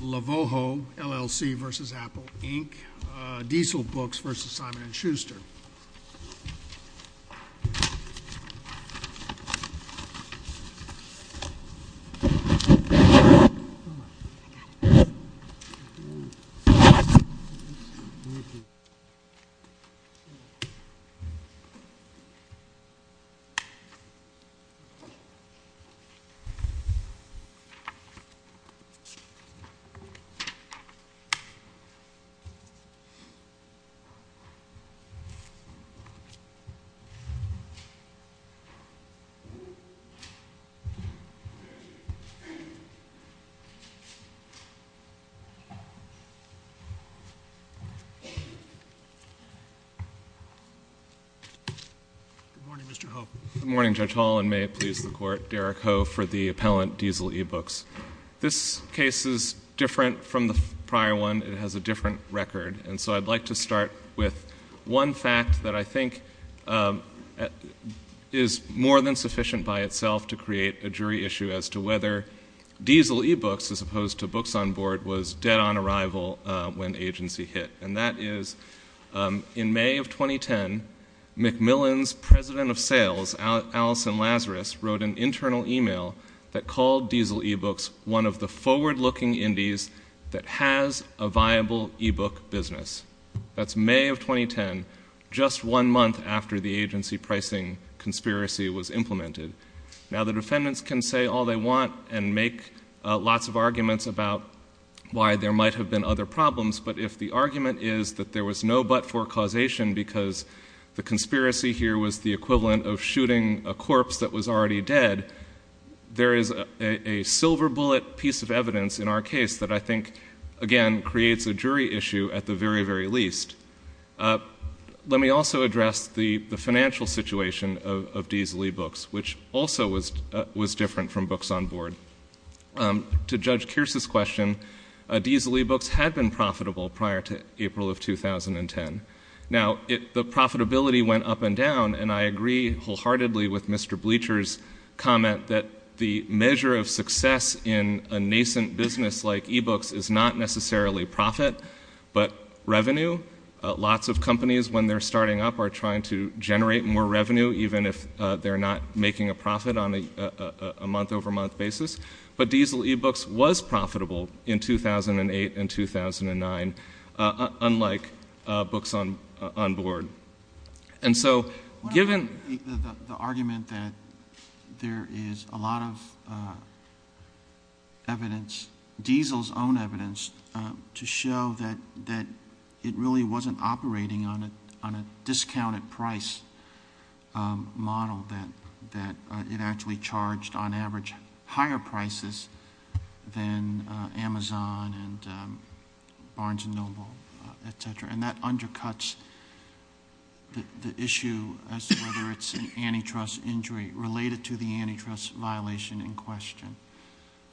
Lavoho, L.L.C. v. Apple Inc. Diesel Books v. Simon & Schuster. Good morning, Judge Hall, and may it please the Court, Derek Ho for the appellant, Diesel E-Books. This case is different from the prior one, it has a different record, and so I'd like to start with one fact that I think is more than sufficient by itself to create a jury issue as to whether Diesel E-Books, as opposed to Books on Board, was dead on arrival when agency hit, and that is in May of 2010, Macmillan's president of sales, Allison Lazarus, wrote an internal e-mail that called Diesel E-Books one of the forward-looking indies that has a viable e-book business. That's May of 2010, just one month after the agency pricing conspiracy was implemented. Now the defendants can say all they want and make lots of arguments about why there might have been other problems, but if the argument is that there was no but for causation because the conspiracy here was the equivalent of shooting a corpse that was already dead, there is a silver bullet piece of evidence in our case that I think, again, creates a jury issue at the very, very least. Let me also address the financial situation of Diesel E-Books, which also was different from Books on Board. To Judge Kearse's question, Diesel E-Books had been profitable prior to April of 2010. Now the profitability went up and down, and I agree wholeheartedly with Mr. Bleacher's comment that the measure of success in a nascent business like e-books is not necessarily profit, but revenue. Lots of companies, when they're starting up, are trying to generate more revenue, even if they're not making a profit on a month-over-month basis. But Diesel E-Books was profitable in 2008 and 2009, unlike Books on Board. And so given- The argument that there is a lot of evidence, Diesel's own evidence, to show that it really wasn't operating on a discounted price model, that it actually charged, on average, higher prices than Amazon and Barnes & Noble, et cetera. And that undercuts the issue as to whether it's an antitrust injury related to the antitrust violation in question.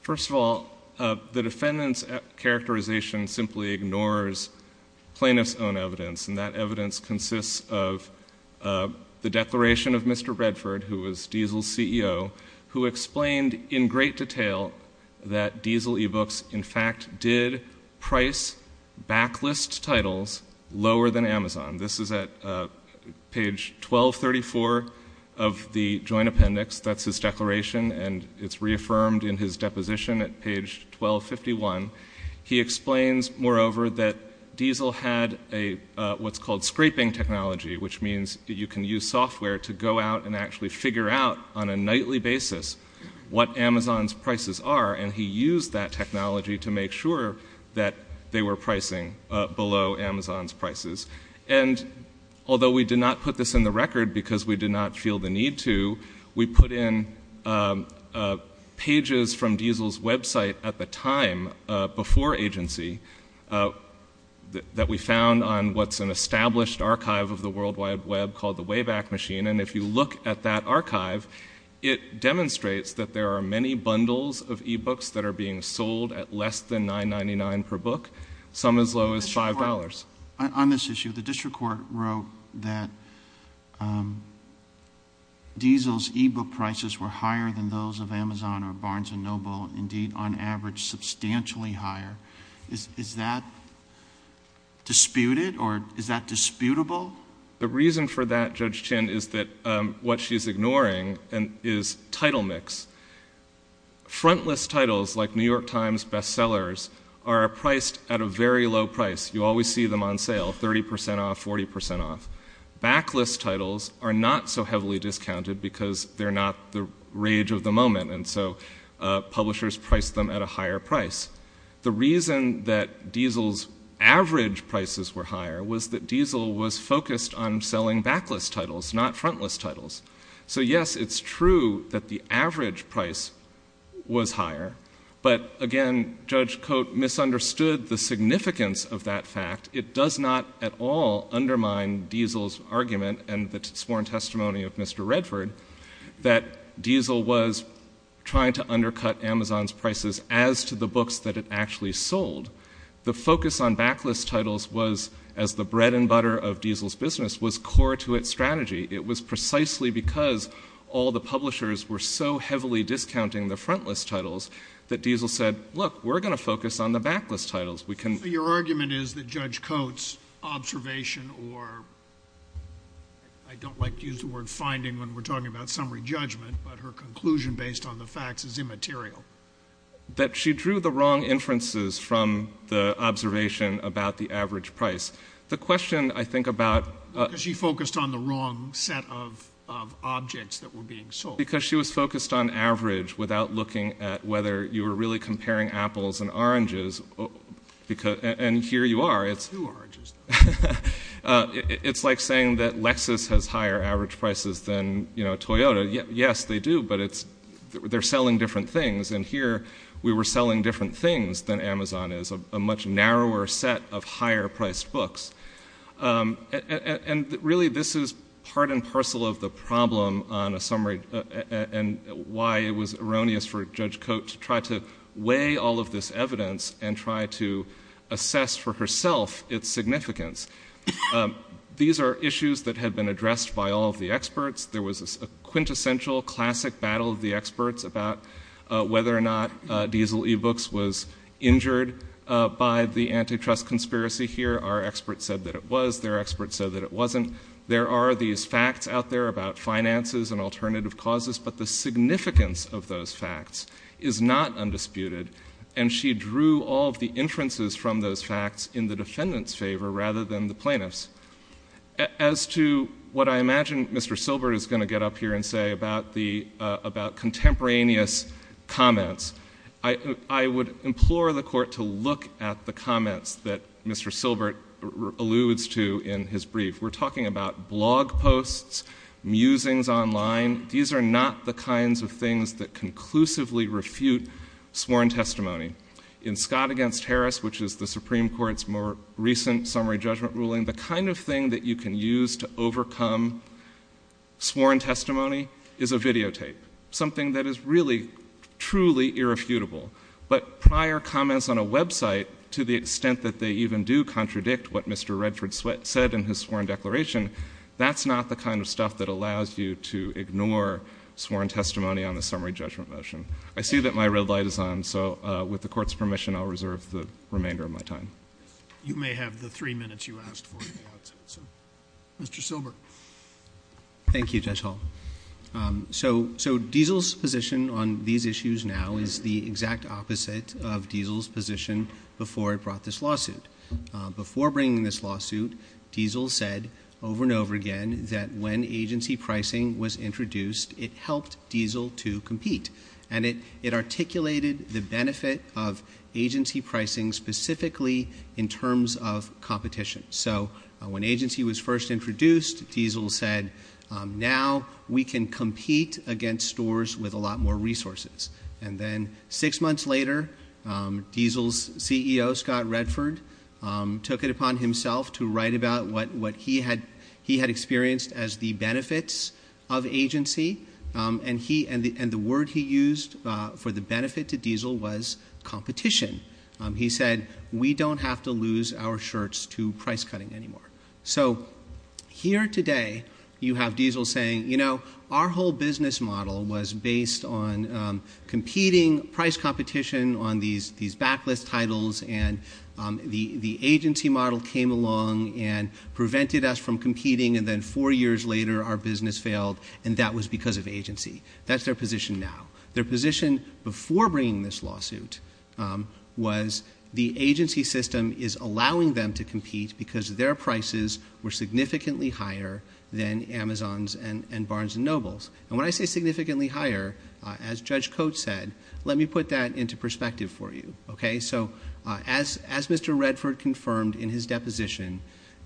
First of all, the defendant's characterization simply ignores plaintiff's own evidence, and that evidence consists of the declaration of Mr. Redford, who was Diesel's CEO, who explained in great detail that Diesel E-Books, in fact, did price backlist titles lower than Amazon. This is at page 1234 of the joint appendix. That's his declaration, and it's reaffirmed in his deposition at page 1251. He explains, moreover, that Diesel had what's called scraping technology, which means that you can use software to go out and actually figure out, on a nightly basis, what Amazon's prices are. And he used that technology to make sure that they were pricing below Amazon's prices. And although we did not put this in the record because we did not feel the need to, we put in pages from Diesel's website at the time, before agency, that we found on what's an established archive of the World Wide Web called the Wayback Machine. And if you look at that archive, it demonstrates that there are many bundles of E-Books that are being sold at less than $9.99 per book, some as low as $5. On this issue, the district court wrote that Diesel's E-Book prices were higher than those of Amazon or Barnes & Noble, indeed, on average, substantially higher. Is that disputed, or is that disputable? The reason for that, Judge Chin, is that what she's ignoring is title mix. Frontless titles, like New York Times bestsellers, are priced at a very low price. You always see them on sale, 30% off, 40% off. Backlist titles are not so heavily discounted because they're not the rage of the moment, and so publishers price them at a higher price. The reason that Diesel's average prices were higher was that Diesel was focused on selling backlist titles, not frontlist titles. So yes, it's true that the average price was higher, but again, Judge Coate misunderstood the significance of that fact. It does not at all undermine Diesel's argument and the sworn testimony of Mr. Redford that Diesel was trying to undercut Amazon's prices as to the books that it actually sold. The focus on backlist titles was, as the bread and butter of Diesel's business, was core to its strategy. It was precisely because all the publishers were so heavily discounting the frontlist titles that Diesel said, look, we're going to focus on the backlist titles. Your argument is that Judge Coate's observation, or I don't like to use the word finding when we're talking about summary judgment, but her conclusion based on the facts is immaterial. That she drew the wrong inferences from the observation about the average price. The question, I think, about... She focused on the wrong set of objects that were being sold. Because she was focused on average without looking at whether you were really comparing apples and oranges. And here you are. It's like saying that Lexus has higher average prices than Toyota. Yes, they do, but they're selling different things. And here, we were selling different things than Amazon is, a much narrower set of higher priced books. And really, this is part and parcel of the problem on a summary and why it was erroneous for Judge Coate to try to weigh all of this evidence and try to assess for herself its significance. These are issues that have been addressed by all of the experts. There was a quintessential classic battle of the experts about whether or not Diesel eBooks was injured by the antitrust conspiracy here. Our experts said that it was. Their experts said that it wasn't. There are these facts out there about finances and alternative causes, but the significance of those facts is not undisputed. And she drew all of the inferences from those facts in the defendant's favor rather than the plaintiff's. As to what I imagine Mr. Silbert is going to get up here and say about contemporaneous comments, I would implore the court to look at the comments that Mr. Silbert alludes to in his brief. We're talking about blog posts, musings online. These are not the kinds of things that conclusively refute sworn testimony. In Scott v. Harris, which is the Supreme Court's more recent summary judgment ruling, the kind of thing that you can use to overcome sworn testimony is a videotape. Something that is really, truly irrefutable. But prior comments on a website, to the extent that they even do contradict what Mr. Redford said in his sworn declaration, that's not the kind of stuff that allows you to ignore sworn testimony on the summary judgment motion. I see that my red light is on, so with the court's permission, I'll reserve the remainder of my time. You may have the three minutes you asked for if you want, so Mr. Silbert. Thank you, Judge Hall. So, Diesel's position on these issues now is the exact opposite of Diesel's position before I brought this lawsuit. Before bringing this lawsuit, Diesel said over and over again that when agency pricing was introduced, it helped Diesel to compete. And it articulated the benefit of agency pricing specifically in terms of competition. So when agency was first introduced, Diesel said, now we can compete against stores with a lot more resources. And then six months later, Diesel's CEO, Scott Redford, took it upon himself to write about what he had experienced as the benefits of agency, and the word he used for the benefit to Diesel was competition. He said, we don't have to lose our shirts to price cutting anymore. So here today, you have Diesel saying, you know, our whole business model was based on competing price competition on these backlist titles, and the agency model came along and prevented us from competing, and then four years later, our business failed, and that was because of agency. That's their position now. Their position before bringing this lawsuit was the agency system is allowing them to compete because their prices were significantly higher than Amazon's and Barnes & Noble's. And when I say significantly higher, as Judge Coates said, let me put that into perspective for you. Okay? So as Mr. Redford confirmed in his deposition,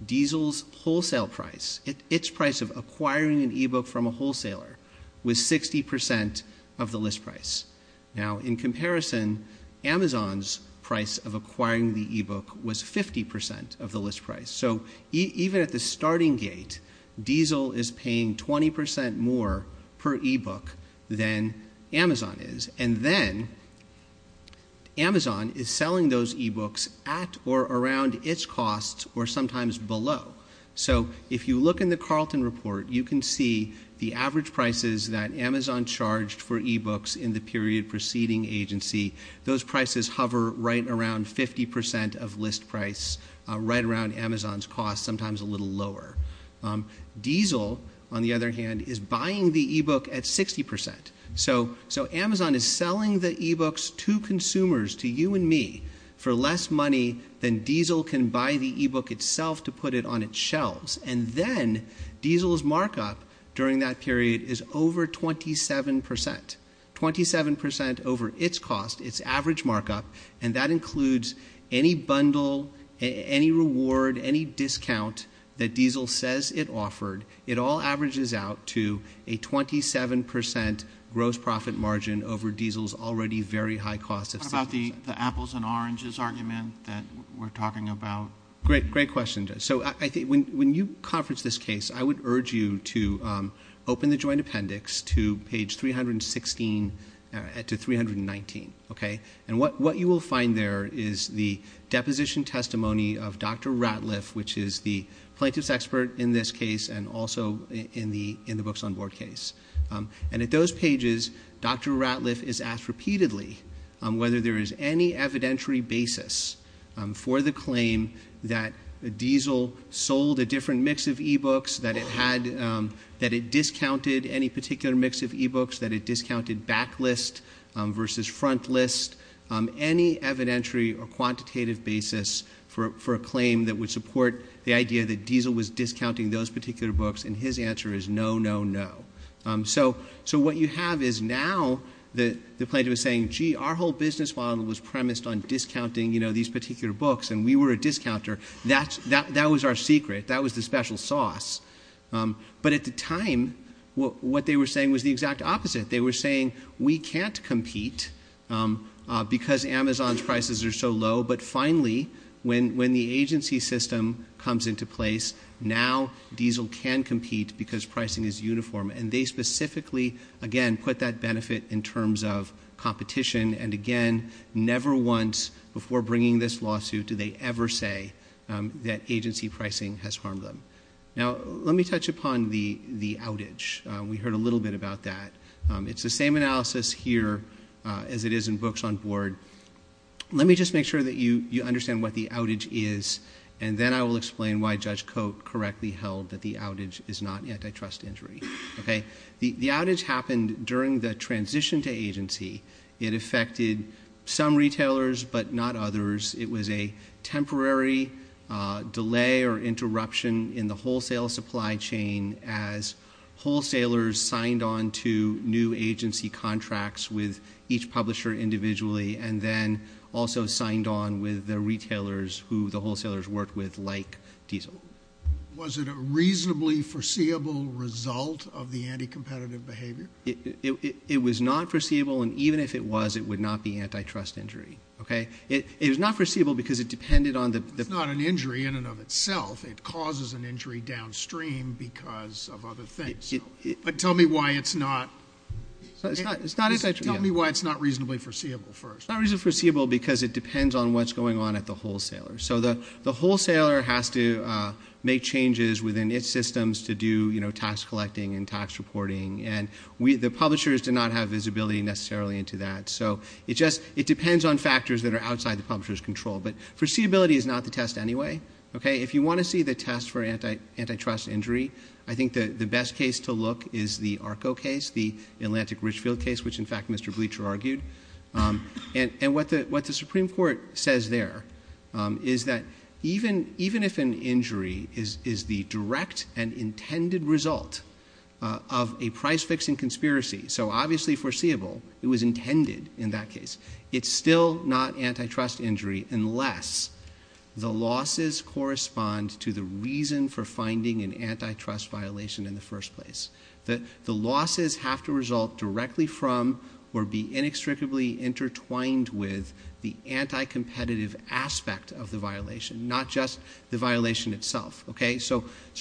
Diesel's wholesale price, its price of acquiring an e-book from a wholesaler, was 60% of the list price. Now in comparison, Amazon's price of acquiring the e-book was 50% of the list price. So even at the starting gate, Diesel is paying 20% more per e-book than Amazon is, and then Amazon is selling those e-books at or around its costs or sometimes below. So if you look in the Carlton report, you can see the average prices that Amazon charged for e-books in the period preceding agency. Those prices hover right around 50% of list price, right around Amazon's costs, sometimes a little lower. Diesel, on the other hand, is buying the e-book at 60%. So Amazon is selling the e-books to consumers, to you and me, for less money than Diesel can buy the e-book itself to put it on its shelves. And then, Diesel's markup during that period is over 27%, 27% over its cost, its average markup, and that includes any bundle, any reward, any discount that Diesel says it offered. It all averages out to a 27% gross profit margin over Diesel's already very high cost of 60%. Can you talk about the apples and oranges argument that we're talking about? Great question. So I think when you conference this case, I would urge you to open the joint appendix to page 316 to 319, okay? And what you will find there is the deposition testimony of Dr. Ratliff, which is the plaintiff's expert in this case and also in the books on board case. And at those pages, Dr. Ratliff is asked repeatedly whether there is any evidentiary basis for the claim that Diesel sold a different mix of e-books, that it discounted any particular mix of e-books, that it discounted backlist versus frontlist, any evidentiary or quantitative basis for a claim that would support the idea that Diesel was discounting those particular books. And his answer is no, no, no. So what you have is now the plaintiff is saying, gee, our whole business model was premised on discounting these particular books and we were a discounter. That was our secret. That was the special sauce. But at the time, what they were saying was the exact opposite. They were saying we can't compete because Amazon's prices are so low. But finally, when the agency system comes into place, now Diesel can compete because pricing is uniform. And they specifically, again, put that benefit in terms of competition and again, never once before bringing this lawsuit do they ever say that agency pricing has harmed them. Now let me touch upon the outage. We heard a little bit about that. It's the same analysis here as it is in books on board. Let me just make sure that you understand what the outage is and then I will explain why Judge Coate correctly held that the outage is not antitrust injury. The outage happened during the transition to agency. It affected some retailers but not others. It was a temporary delay or interruption in the wholesale supply chain as wholesalers signed on to new agency contracts with each publisher individually and then also signed on with the retailers who the wholesalers worked with like Diesel. Was it a reasonably foreseeable result of the anti-competitive behavior? It was not foreseeable and even if it was, it would not be antitrust injury. Okay? It was not foreseeable because it depended on the- It's not an injury in and of itself. It causes an injury downstream because of other things. Tell me why it's not. It's not- Tell me why it's not reasonably foreseeable first. It's not reasonably foreseeable because it depends on what's going on at the wholesaler. The wholesaler has to make changes within its systems to do tax collecting and tax reporting. The publishers do not have visibility necessarily into that. It depends on factors that are outside the publisher's control. Foreseeability is not the test anyway. If you want to see the test for antitrust injury, I think that the best case to look is the ARCO case, the Atlantic Richfield case, which in fact Mr. Bleacher argued. What the Supreme Court says there is that even if an injury is the direct and intended result of a price fixing conspiracy, so obviously foreseeable, it was intended in that case, it's still not antitrust injury unless the losses correspond to the reason for finding an antitrust violation in the first place. The losses have to result directly from or be inextricably intertwined with the anti-competitive aspect of the violation, not just the violation itself.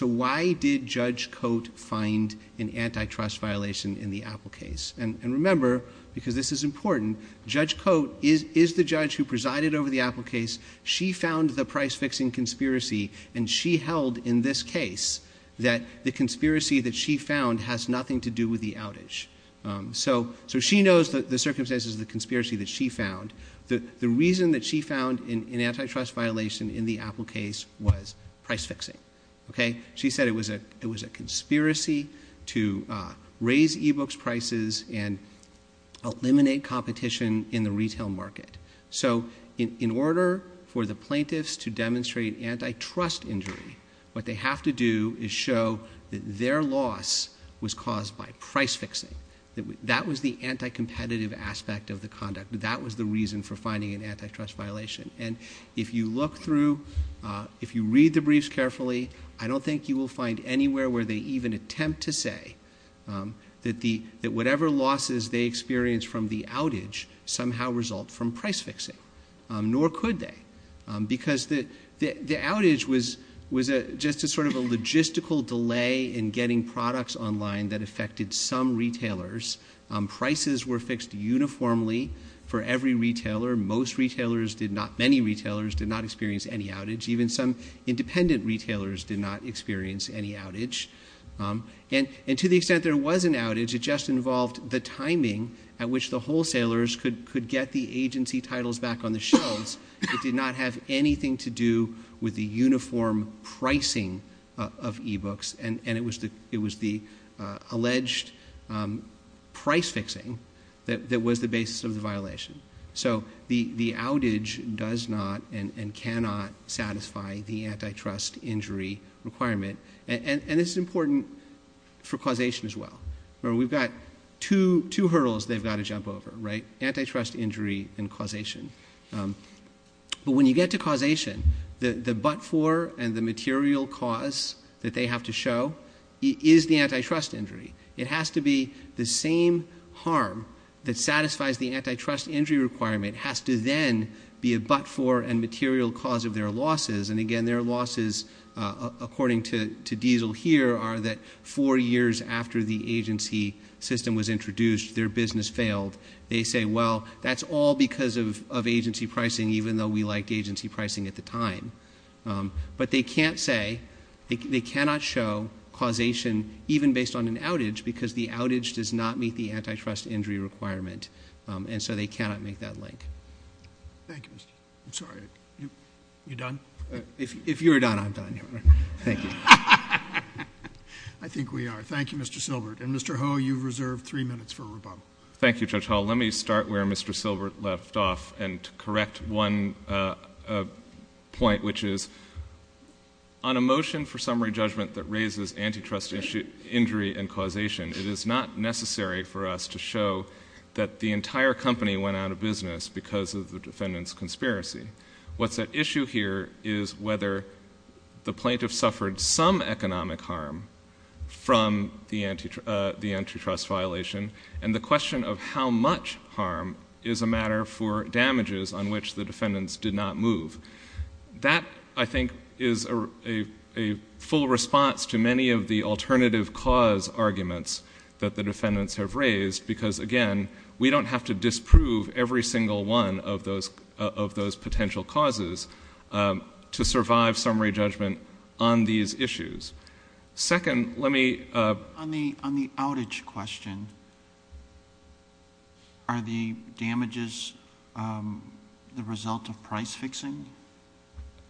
Why did Judge Cote find an antitrust violation in the Apple case? Remember, because this is important, Judge Cote is the judge who presided over the Apple case. She found the price fixing conspiracy and she held in this case that the conspiracy that she found has nothing to do with the outage. She knows the circumstances of the conspiracy that she found. The reason that she found an antitrust violation in the Apple case was price fixing. She said it was a conspiracy to raise e-books prices and eliminate competition in the retail market. So in order for the plaintiffs to demonstrate antitrust injury, what they have to do is show that their loss was caused by price fixing. That was the anti-competitive aspect of the conduct. That was the reason for finding an antitrust violation. If you look through, if you read the briefs carefully, I don't think you will find anywhere where they even attempt to say that whatever losses they experienced from the outage somehow result from price fixing. Nor could they. Because the outage was just a sort of logistical delay in getting products online that affected some retailers. Prices were fixed uniformly for every retailer. Most retailers did not, many retailers did not experience any outage. Even some independent retailers did not experience any outage. And to the extent there was an outage, it just involved the timing at which the wholesalers could get the agency titles back on the shelves. It did not have anything to do with the uniform pricing of e-books. And it was the alleged price fixing that was the basis of the violation. So the outage does not and cannot satisfy the antitrust injury requirement. And it's important for causation as well. We've got two hurdles they've got to jump over, right? Antitrust injury and causation. But when you get to causation, the but-for and the material cause that they have to show is the antitrust injury. It has to be the same harm that satisfies the antitrust injury requirement has to then be a but-for and material cause of their losses. And again, their losses, according to Diesel here, are that four years after the agency system was introduced, their business failed. They say, well, that's all because of agency pricing, even though we liked agency pricing at the time. But they can't say, they cannot show causation even based on an outage because the outage does not meet the antitrust injury requirement. And so they cannot make that link. Thank you, Mr. Chief. I'm sorry, you done? If you're done, I'm done. Thank you. I think we are. Thank you, Mr. Silbert. And Mr. Ho, you've reserved three minutes for rebuttal. Thank you, Judge Hall. Let me start where Mr. Silbert left off and correct one point, which is on a motion for summary judgment that raises antitrust injury and causation, it is not necessary for us to show that the entire company went out of business because of the defendant's conspiracy. What's at issue here is whether the plaintiff suffered some economic harm from the antitrust violation and the question of how much harm is a matter for damages on which the defendants did not move. That I think is a full response to many of the alternative cause arguments that the defendants have raised because, again, we don't have to disprove every single one of those potential causes to survive summary judgment on these issues. Second, let me— On the outage question, are the damages the result of price fixing?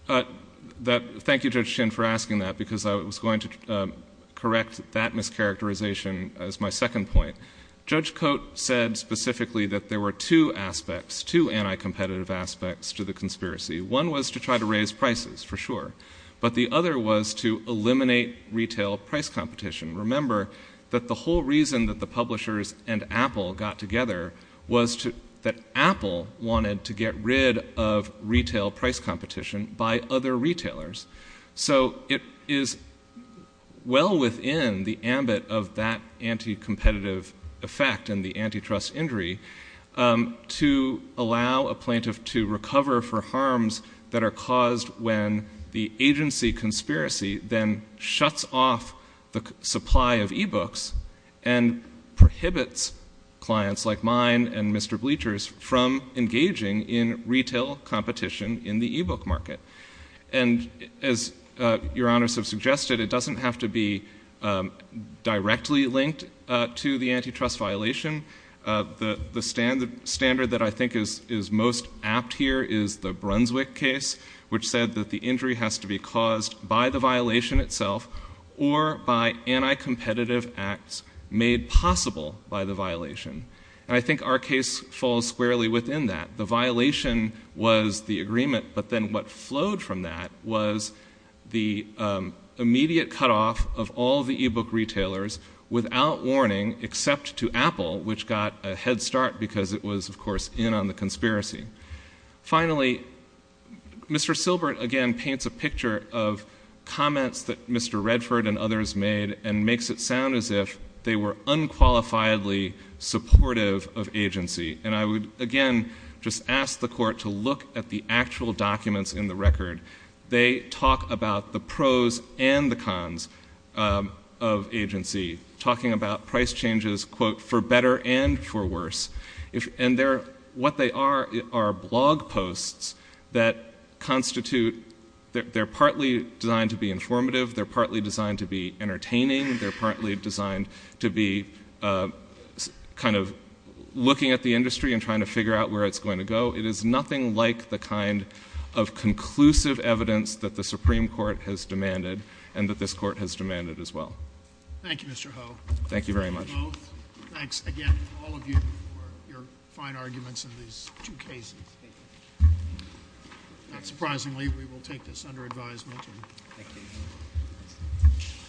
Thank you, Judge Chin, for asking that because I was going to correct that mischaracterization as my second point. Judge Coate said specifically that there were two aspects, two anti-competitive aspects to the conspiracy. One was to try to raise prices for sure, but the other was to eliminate retail price competition. Remember that the whole reason that the publishers and Apple got together was that Apple wanted to get rid of retail price competition by other retailers. So it is well within the ambit of that anti-competitive effect and the antitrust injury to allow a set of harms that are caused when the agency conspiracy then shuts off the supply of e-books and prohibits clients like mine and Mr. Bleacher's from engaging in retail competition in the e-book market. And as Your Honors have suggested, it doesn't have to be directly linked to the antitrust violation. The standard that I think is most apt here is the Brunswick case, which said that the injury has to be caused by the violation itself or by anti-competitive acts made possible by the violation. I think our case falls squarely within that. The violation was the agreement, but then what flowed from that was the immediate cut off of all the e-book retailers without warning except to Apple, which got a head start because it was, of course, in on the conspiracy. Finally, Mr. Silbert again paints a picture of comments that Mr. Redford and others made and makes it sound as if they were unqualifiedly supportive of agency. And I would again just ask the Court to look at the actual documents in the record. They talk about the pros and the cons of agency, talking about price changes, quote, for better and for worse. And what they are are blog posts that constitute, they're partly designed to be informative, they're partly designed to be entertaining, they're partly designed to be kind of looking at the industry and trying to figure out where it's going to go. It is nothing like the kind of conclusive evidence that the Supreme Court has demanded and that this Court has demanded as well. Thank you, Mr. Ho. Thank you very much. Mr. Ho, thanks again to all of you for your fine arguments in these two cases. Thank you. Not surprisingly, we will take this under advisement. Thank you.